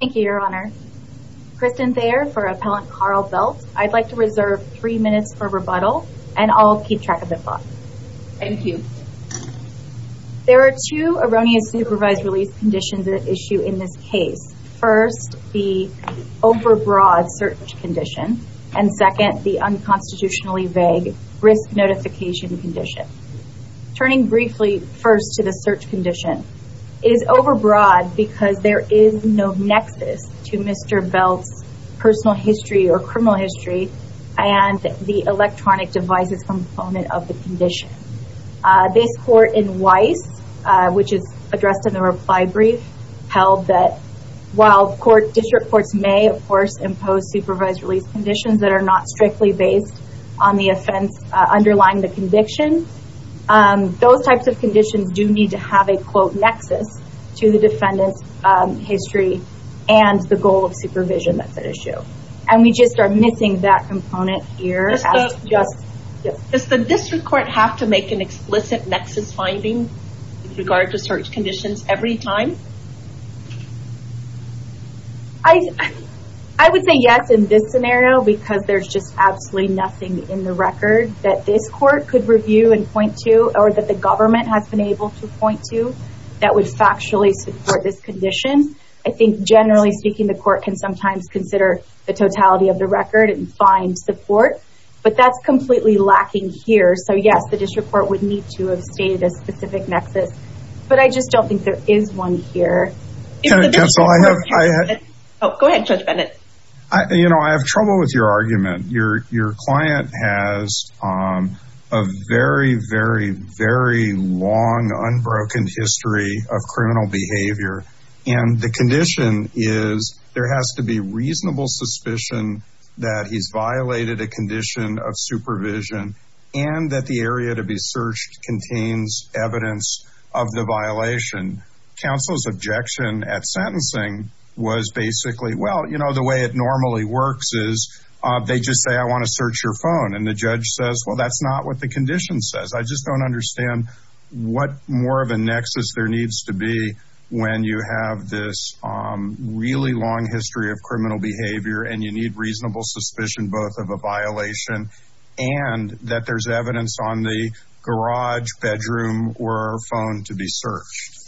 Thank you, your honor. Kristen Thayer for Appellant Carl Belt. I'd like to reserve three minutes for rebuttal, and I'll keep track of the clock. Thank you. There are two erroneous supervised release conditions at issue in this case. First, the overbroad search condition, and second, the unconstitutionally vague risk notification condition. Turning briefly first to the search condition, it is overbroad because there is no nexus to Mr. Belt's personal history or criminal history and the electronic devices component of the condition. This court in Weiss, which is addressed in the reply brief, held that while district courts may, of course, impose supervised release conditions that are not strictly based on the offense underlying the conviction, those types of conditions do need to have a, quote, nexus to the defendant's history and the goal of supervision that's at issue. And we just are missing that component here. Does the district court have to make an explicit nexus finding in regard to search conditions every time? I would say yes in this scenario because there's just absolutely nothing in the record that this court could review and point to or that the government has been able to point to that would factually support this condition. I think generally speaking, the court can sometimes consider the totality of the record and find support, but that's completely lacking here. So yes, the district court would need to have stated a specific nexus, but I just don't think there is one here. Go ahead, Judge Bennett. You know, I have trouble with your argument. Your client has a very, very, very long, unbroken history of criminal behavior. And the condition is there has to be reasonable suspicion that he's violated a condition of supervision and that the area to be searched contains evidence of the violation. Counsel's objection at sentencing was basically, well, you know, the way it normally works is they just say, I want to search your phone. And the judge says, well, that's not what the condition says. I just don't understand what more of a nexus there needs to be when you have this really long history of criminal behavior and you need reasonable suspicion, both of a violation and that there's evidence on the garage bedroom or phone to be searched.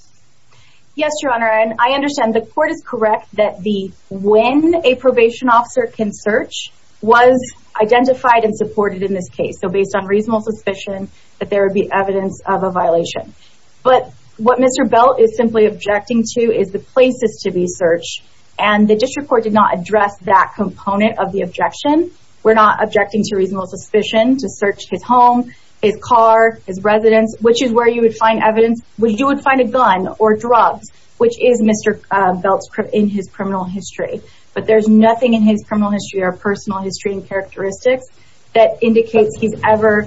Yes, Your Honor. And I understand the court is correct that the when a probation officer can search was identified and supported in this case. So based on reasonable suspicion that there would be evidence of a violation. But what Mr. Belt is simply objecting to is the places to be searched. And the district court did not address that component of the objection. We're not objecting to reasonable suspicion to search his home, his car, his residence, which is where you would find evidence. You would find a gun or drugs, which is Mr. Belt's in his criminal history. But there's nothing in his criminal history or personal history and characteristics that indicates he's ever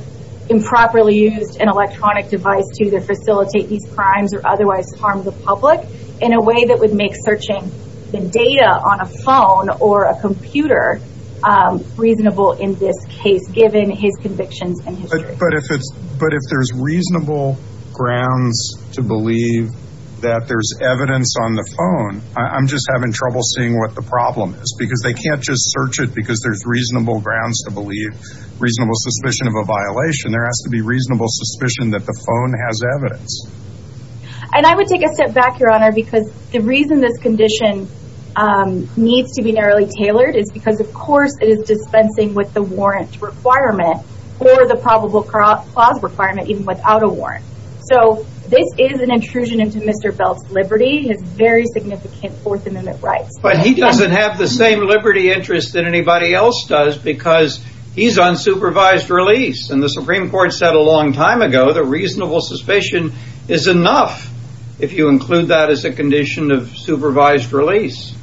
improperly used an electronic device to facilitate these crimes or otherwise harm the public in a way that would make searching the data on a phone or a computer reasonable in this case, given his convictions. But if there's reasonable grounds to believe that there's evidence on the phone, I'm just having trouble seeing what the problem is because they can't just search it because there's reasonable grounds to believe reasonable suspicion of a violation. There has to be reasonable suspicion that the phone has evidence. And I would take a step back, Your Honor, because the reason this condition needs to be narrowly tailored is because, of course, it is dispensing with the warrant requirement or the probable cause requirement even without a warrant. So this is an intrusion into Mr. Belt's liberty, his very significant Fourth Amendment rights. But he doesn't have the same liberty interest that anybody else does because he's on supervised release. And the Supreme Court said a long time ago the reasonable suspicion is enough if you include that as a condition of supervised release.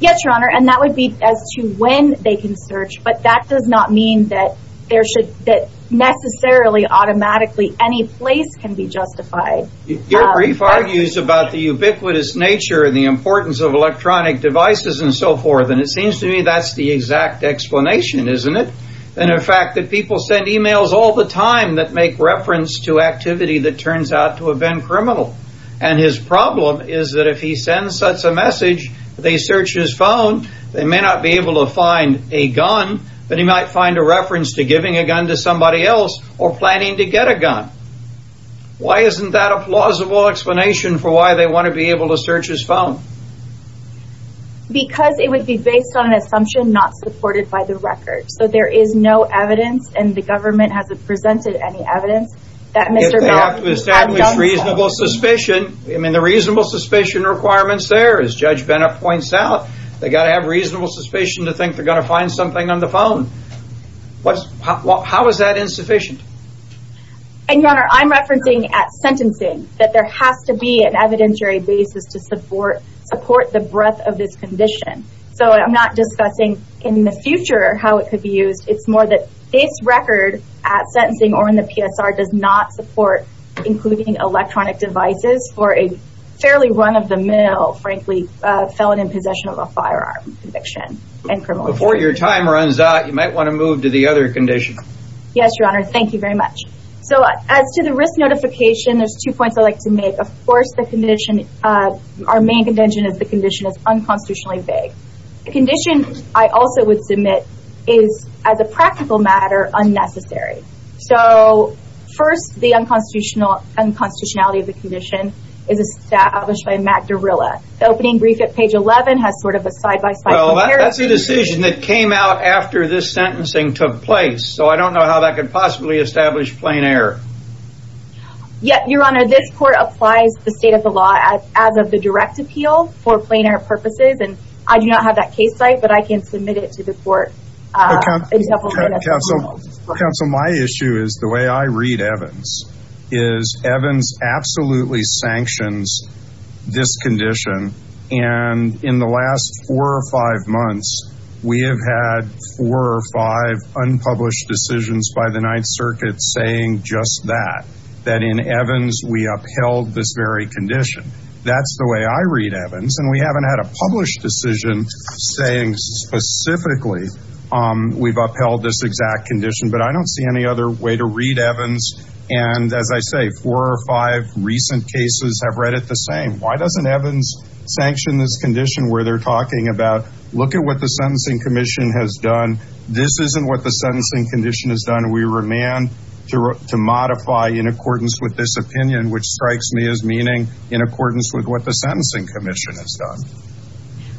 Yes, Your Honor. And that would be as to when they can search. But that does not mean that there should that necessarily automatically any place can be justified. Your brief argues about the ubiquitous nature and the importance of electronic devices and so forth. And it seems to me that's the exact explanation, isn't it? And in fact, that people send emails all the time that make reference to activity that turns out to have been criminal. And his problem is that if he sends such a message, they search his phone. They may not be able to find a gun, but he might find a reference to giving a gun to somebody else or planning to get a gun. Why isn't that a plausible explanation for why they want to be able to search his phone? Because it would be based on an assumption not supported by the record. So there is no evidence and the government hasn't presented any evidence that Mr. Belt had done so. If they have to establish reasonable suspicion, I mean, the reasonable suspicion requirements there, as Judge Bennett points out, they got to have reasonable suspicion to think they're going to find something on the phone. How is that insufficient? And, Your Honor, I'm referencing at sentencing that there has to be an evidentiary basis to support the breadth of this condition. So I'm not discussing in the future how it could be used. It's more that this record at sentencing or in the PSR does not support including electronic devices for a fairly run-of-the-mill, frankly, felon in possession of a firearm conviction. Before your time runs out, you might want to move to the other condition. Yes, Your Honor. Thank you very much. So as to the risk notification, there's two points I'd like to make. Of course, our main contention is the condition is unconstitutionally vague. The condition I also would submit is, as a practical matter, unnecessary. So first, the unconstitutionality of the condition is established by Matt Derrilla. The opening brief at page 11 has sort of a side-by-side comparison. That's a decision that came out after this sentencing took place. So I don't know how that could possibly establish plain error. Your Honor, this court applies the state of the law as of the direct appeal for plain error purposes. And I do not have that case site, but I can submit it to the court. Counsel, my issue is the way I read Evans is Evans absolutely sanctions this condition. And in the last four or five months, we have had four or five unpublished decisions by the Ninth Circuit saying just that. That in Evans, we upheld this very condition. That's the way I read Evans. And we haven't had a published decision saying specifically we've upheld this exact condition. But I don't see any other way to read Evans. And as I say, four or five recent cases have read it the same. Why doesn't Evans sanction this condition where they're talking about look at what the Sentencing Commission has done. This isn't what the Sentencing Commission has done. We remand to modify in accordance with this opinion, which strikes me as meaning in accordance with what the Sentencing Commission has done.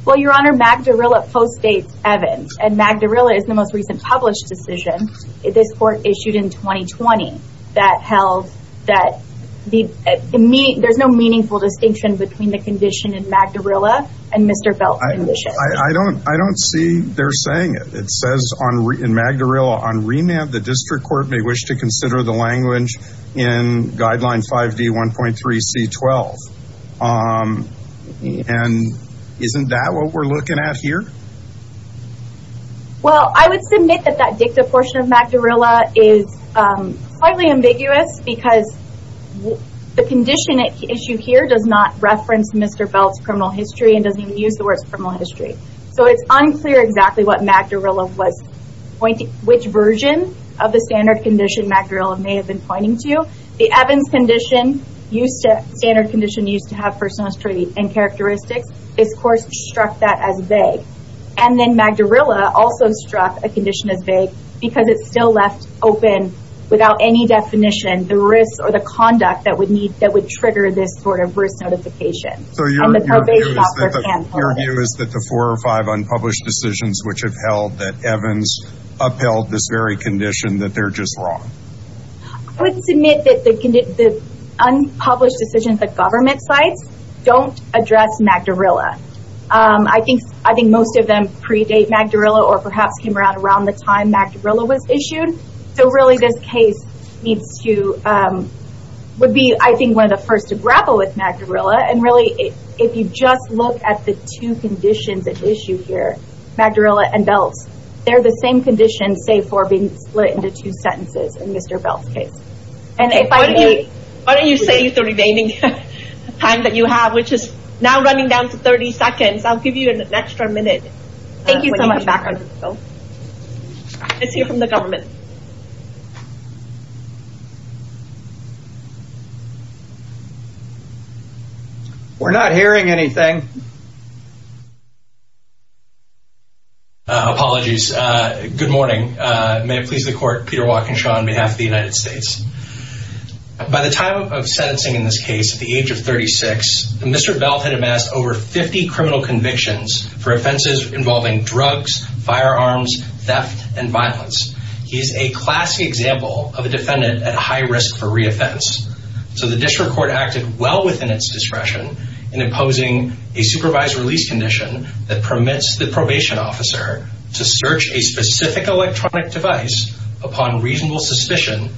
Well, Your Honor, Mag Derrilla post-states Evans. And Mag Derrilla is the most recent published decision this court issued in 2020. That held that there's no meaningful distinction between the condition in Mag Derrilla and Mr. Belt's condition. I don't see they're saying it. It says in Mag Derrilla, on remand, the district court may wish to consider the language in Guideline 5D1.3C12. And isn't that what we're looking at here? Well, I would submit that that dicta portion of Mag Derrilla is slightly ambiguous. Because the condition at issue here does not reference Mr. Belt's criminal history and doesn't even use the words criminal history. So it's unclear exactly what Mag Derrilla was pointing, which version of the standard condition Mag Derrilla may have been pointing to. The Evans condition, standard condition used to have personal history and characteristics, this court struck that as vague. And then Mag Derrilla also struck a condition as vague because it still left open, without any definition, the risks or the conduct that would trigger this sort of risk notification. So your view is that the four or five unpublished decisions which have held that Evans upheld this very condition, that they're just wrong? I would submit that the unpublished decisions at government sites don't address Mag Derrilla. I think most of them predate Mag Derrilla or perhaps came around the time Mag Derrilla was issued. So really this case would be, I think, one of the first to grapple with Mag Derrilla. And really, if you just look at the two conditions at issue here, Mag Derrilla and Belt, they're the same condition save for being split into two sentences in Mr. Belt's case. Why don't you save the remaining time that you have, which is now running down to 30 seconds. I'll give you an extra minute. Thank you so much. Let's hear from the government. We're not hearing anything. Apologies. Good morning. May it please the Court. Peter Watkinshaw on behalf of the United States. By the time of sentencing in this case at the age of 36, Mr. Belt had amassed over 50 criminal convictions for offenses involving drugs, firearms, theft, and violence. He is a classic example of a defendant at high risk for reoffense. So the district court acted well within its discretion in imposing a supervised release condition that permits the probation officer to search a specific electronic device upon reasonable suspicion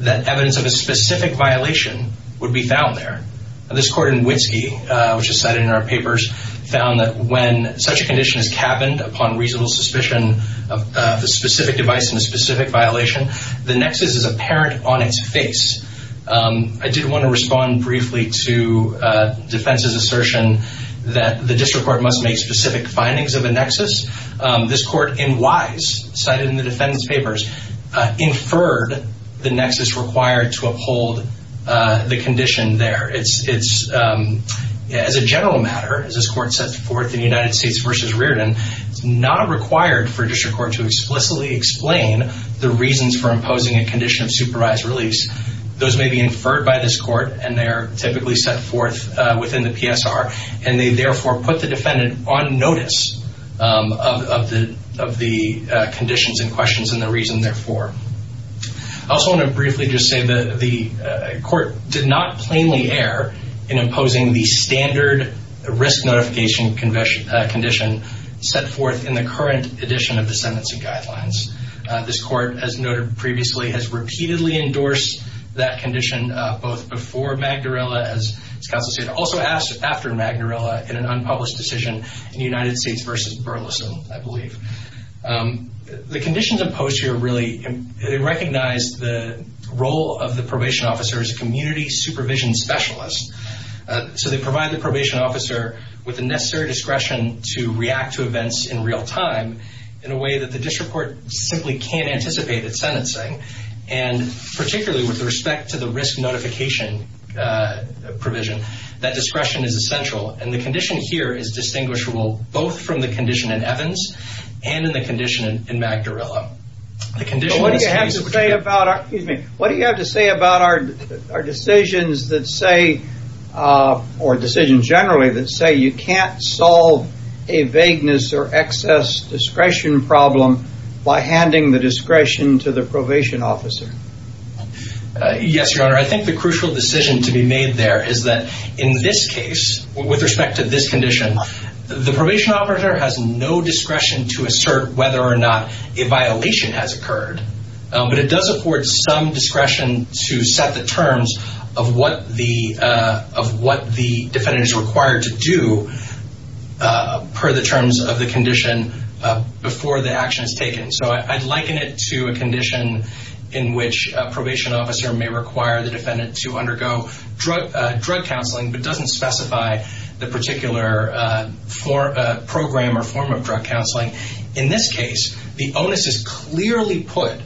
that evidence of a specific violation would be found there. This court in Witski, which is cited in our papers, found that when such a condition is cabined upon reasonable suspicion of a specific device and a specific violation, the nexus is apparent on its face. I did want to respond briefly to defense's assertion that the district court must make specific findings of a nexus. This court in Wise, cited in the defendant's papers, inferred the nexus required to uphold the condition there. As a general matter, as this court sets forth in United States v. Reardon, it's not required for a district court to explicitly explain the reasons for imposing a condition of supervised release. Those may be inferred by this court, and they are typically set forth within the PSR, and they therefore put the defendant on notice of the conditions and questions and the reason therefore. I also want to briefly just say that the court did not plainly err in imposing the standard risk notification condition set forth in the current edition of the Sentencing Guidelines. This court, as noted previously, has repeatedly endorsed that condition both before Magnarella, as counsel stated, also after Magnarella in an unpublished decision in United States v. Burleson, I believe. The conditions imposed here really recognize the role of the probation officer as a community supervision specialist. So they provide the probation officer with the necessary discretion to react to events in real time in a way that the district court simply can't anticipate at sentencing, and particularly with respect to the risk notification provision, that discretion is essential. And the condition here is distinguishable both from the condition in Evans and in the condition in Magnarella. But what do you have to say about our decisions that say, or decisions generally that say, you can't solve a vagueness or excess discretion problem by handing the discretion to the probation officer? Yes, Your Honor. I think the crucial decision to be made there is that in this case, with respect to this condition, the probation officer has no discretion to assert whether or not a violation has occurred. But it does afford some discretion to set the terms of what the defendant is required to do per the terms of the condition before the action is taken. So I'd liken it to a condition in which a probation officer may require the defendant to undergo drug counseling, but doesn't specify the particular program or form of drug counseling. In this case, the onus is clearly put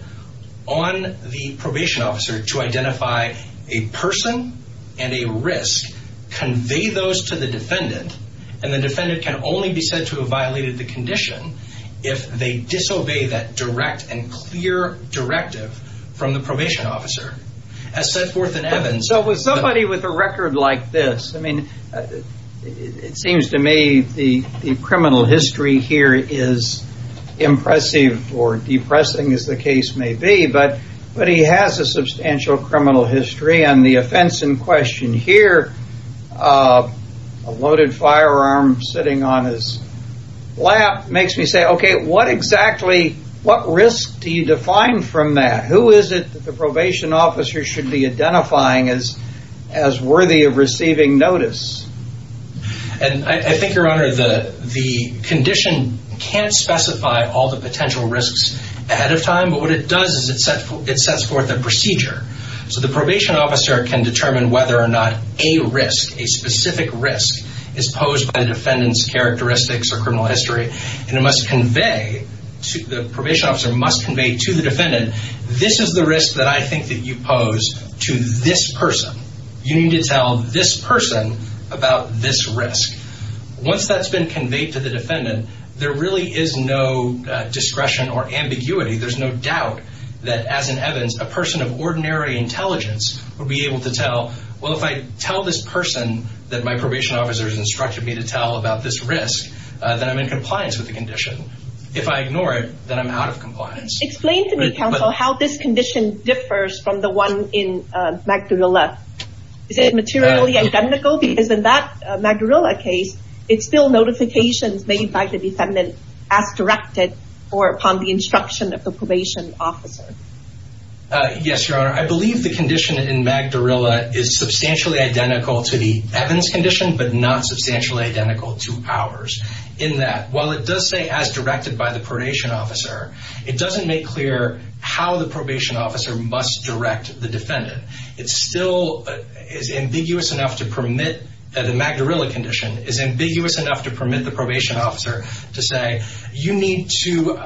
on the probation officer to identify a person and a risk, convey those to the defendant, and the defendant can only be said to have violated the condition if they disobey that direct and clear directive from the probation officer, as set forth in Evans. So with somebody with a record like this, I mean, it seems to me the criminal history here is impressive or depressing as the case may be, but he has a substantial criminal history. I agree on the offense in question here. A loaded firearm sitting on his lap makes me say, okay, what exactly, what risk do you define from that? Who is it that the probation officer should be identifying as worthy of receiving notice? I think, Your Honor, the condition can't specify all the potential risks ahead of time, but what it does is it sets forth a procedure. So the probation officer can determine whether or not a risk, a specific risk, is posed by the defendant's characteristics or criminal history, and it must convey, the probation officer must convey to the defendant, this is the risk that I think that you pose to this person. You need to tell this person about this risk. Once that's been conveyed to the defendant, there really is no discretion or ambiguity. There's no doubt that, as in Evans, a person of ordinary intelligence would be able to tell, well, if I tell this person that my probation officer has instructed me to tell about this risk, then I'm in compliance with the condition. If I ignore it, then I'm out of compliance. Explain to me, counsel, how this condition differs from the one in Magdalena. Is it materially identical? Because in that Magdalena case, it's still notifications made by the defendant as directed or upon the instruction of the probation officer. Yes, Your Honor. I believe the condition in Magdalena is substantially identical to the Evans condition, but not substantially identical to ours in that, while it does say as directed by the probation officer, it doesn't make clear how the probation officer must direct the defendant. It still is ambiguous enough to permit the Magdalena condition, is ambiguous enough to permit the probation officer to say, you need to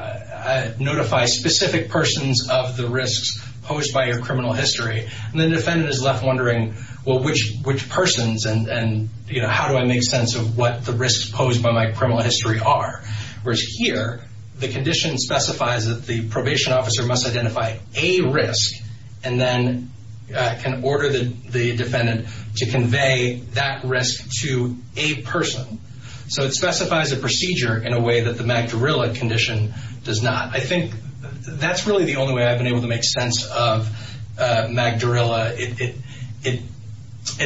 notify specific persons of the risks posed by your criminal history. And the defendant is left wondering, well, which persons and how do I make sense of what the risks posed by my criminal history are? Whereas here, the condition specifies that the probation officer must identify a risk and then can order the defendant to convey that risk to a person. So it specifies a procedure in a way that the Magdalena condition does not. I think that's really the only way I've been able to make sense of Magdalena. It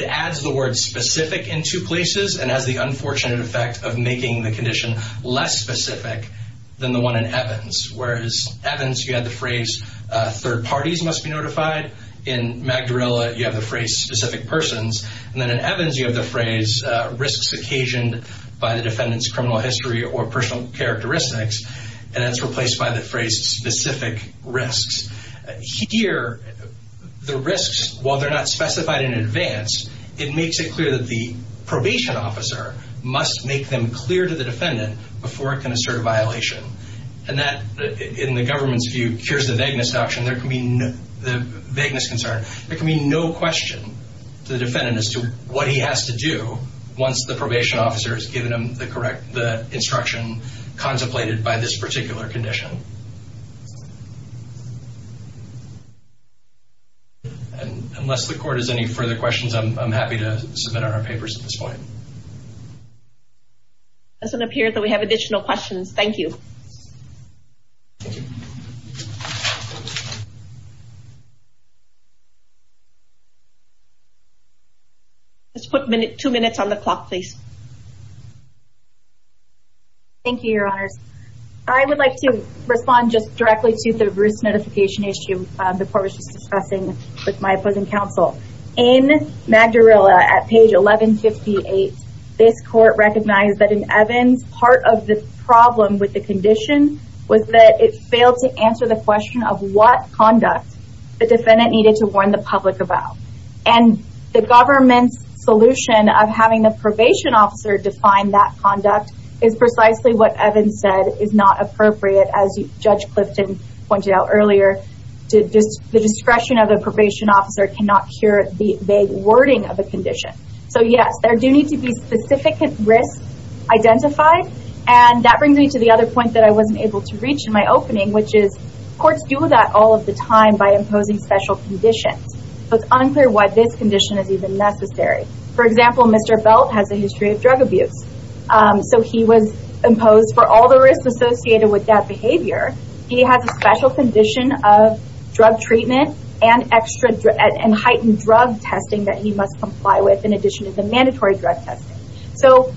adds the word specific in two places and has the unfortunate effect of making the condition less specific than the one in Evans. Whereas Evans, you have the phrase third parties must be notified. In Magdalena, you have the phrase specific persons. And then in Evans, you have the phrase risks occasioned by the defendant's criminal history or personal characteristics, and that's replaced by the phrase specific risks. Here, the risks, while they're not specified in advance, it makes it clear that the probation officer must make them clear to the defendant before it can assert a violation. And that, in the government's view, cures the vagueness concern. There can be no question to the defendant as to what he has to do once the probation officer has given him the instruction contemplated by this particular condition. Unless the court has any further questions, I'm happy to submit our papers at this point. It doesn't appear that we have additional questions. Thank you. Let's put two minutes on the clock, please. Thank you, Your Honors. I would like to respond just directly to the Bruce notification issue before I was just discussing with my opposing counsel. In Magdarella, at page 1158, this court recognized that in Evans, part of the problem with the condition was that it failed to answer the question of what conduct the defendant needed to warn the public about. And the government's solution of having the probation officer define that conduct is precisely what Evans said is not appropriate. As Judge Clifton pointed out earlier, the discretion of the probation officer cannot cure the vague wording of a condition. So, yes, there do need to be specific risks identified. And that brings me to the other point that I wasn't able to reach in my opening, which is courts do that all of the time by imposing special conditions. So it's unclear why this condition is even necessary. For example, Mr. Belt has a history of drug abuse. So he was imposed for all the risks associated with that behavior. He has a special condition of drug treatment and heightened drug testing that he must comply with in addition to the mandatory drug testing. So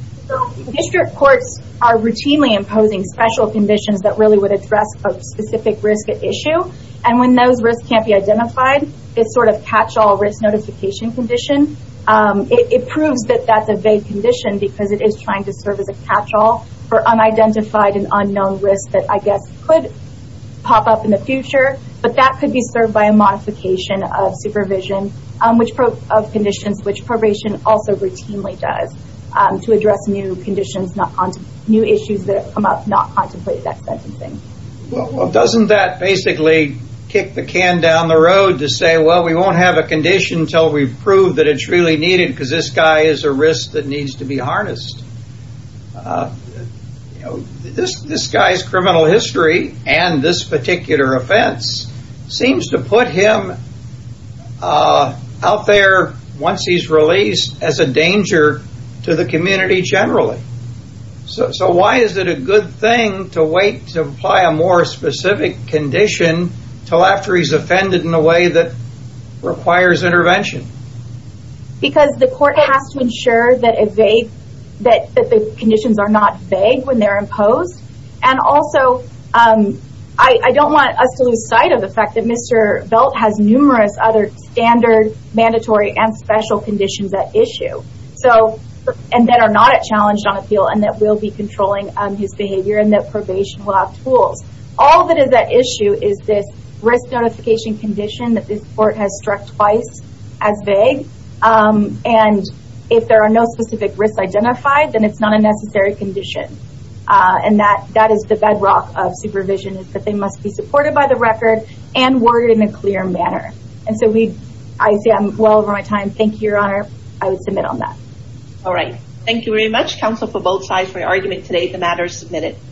district courts are routinely imposing special conditions that really would address a specific risk at issue. And when those risks can't be identified, it's sort of catch-all risk notification condition. It proves that that's a vague condition because it is trying to serve as a catch-all for unidentified and unknown risks that I guess could pop up in the future. But that could be served by a modification of supervision of conditions, which probation also routinely does to address new conditions, new issues that come up not contemplated at sentencing. Well, doesn't that basically kick the can down the road to say, well, we won't have a condition until we prove that it's really needed because this guy is a risk that needs to be harnessed? This guy's criminal history and this particular offense seems to put him out there once he's released as a danger to the community generally. So why is it a good thing to wait to apply a more specific condition until after he's offended in a way that requires intervention? Because the court has to ensure that the conditions are not vague when they're imposed. And also, I don't want us to lose sight of the fact that Mr. Belt has numerous other standard, mandatory, and special conditions at issue and that are not challenged on appeal and that we'll be controlling his behavior and that probation will have tools. All that is at issue is this risk notification condition that this court has struck twice as vague, and if there are no specific risks identified, then it's not a necessary condition. And that is the bedrock of supervision is that they must be supported by the record and worded in a clear manner. And so I say I'm well over my time. Thank you, Your Honor. I would submit on that. All right. Thank you very much, counsel, for both sides for your argument today. The matter is submitted.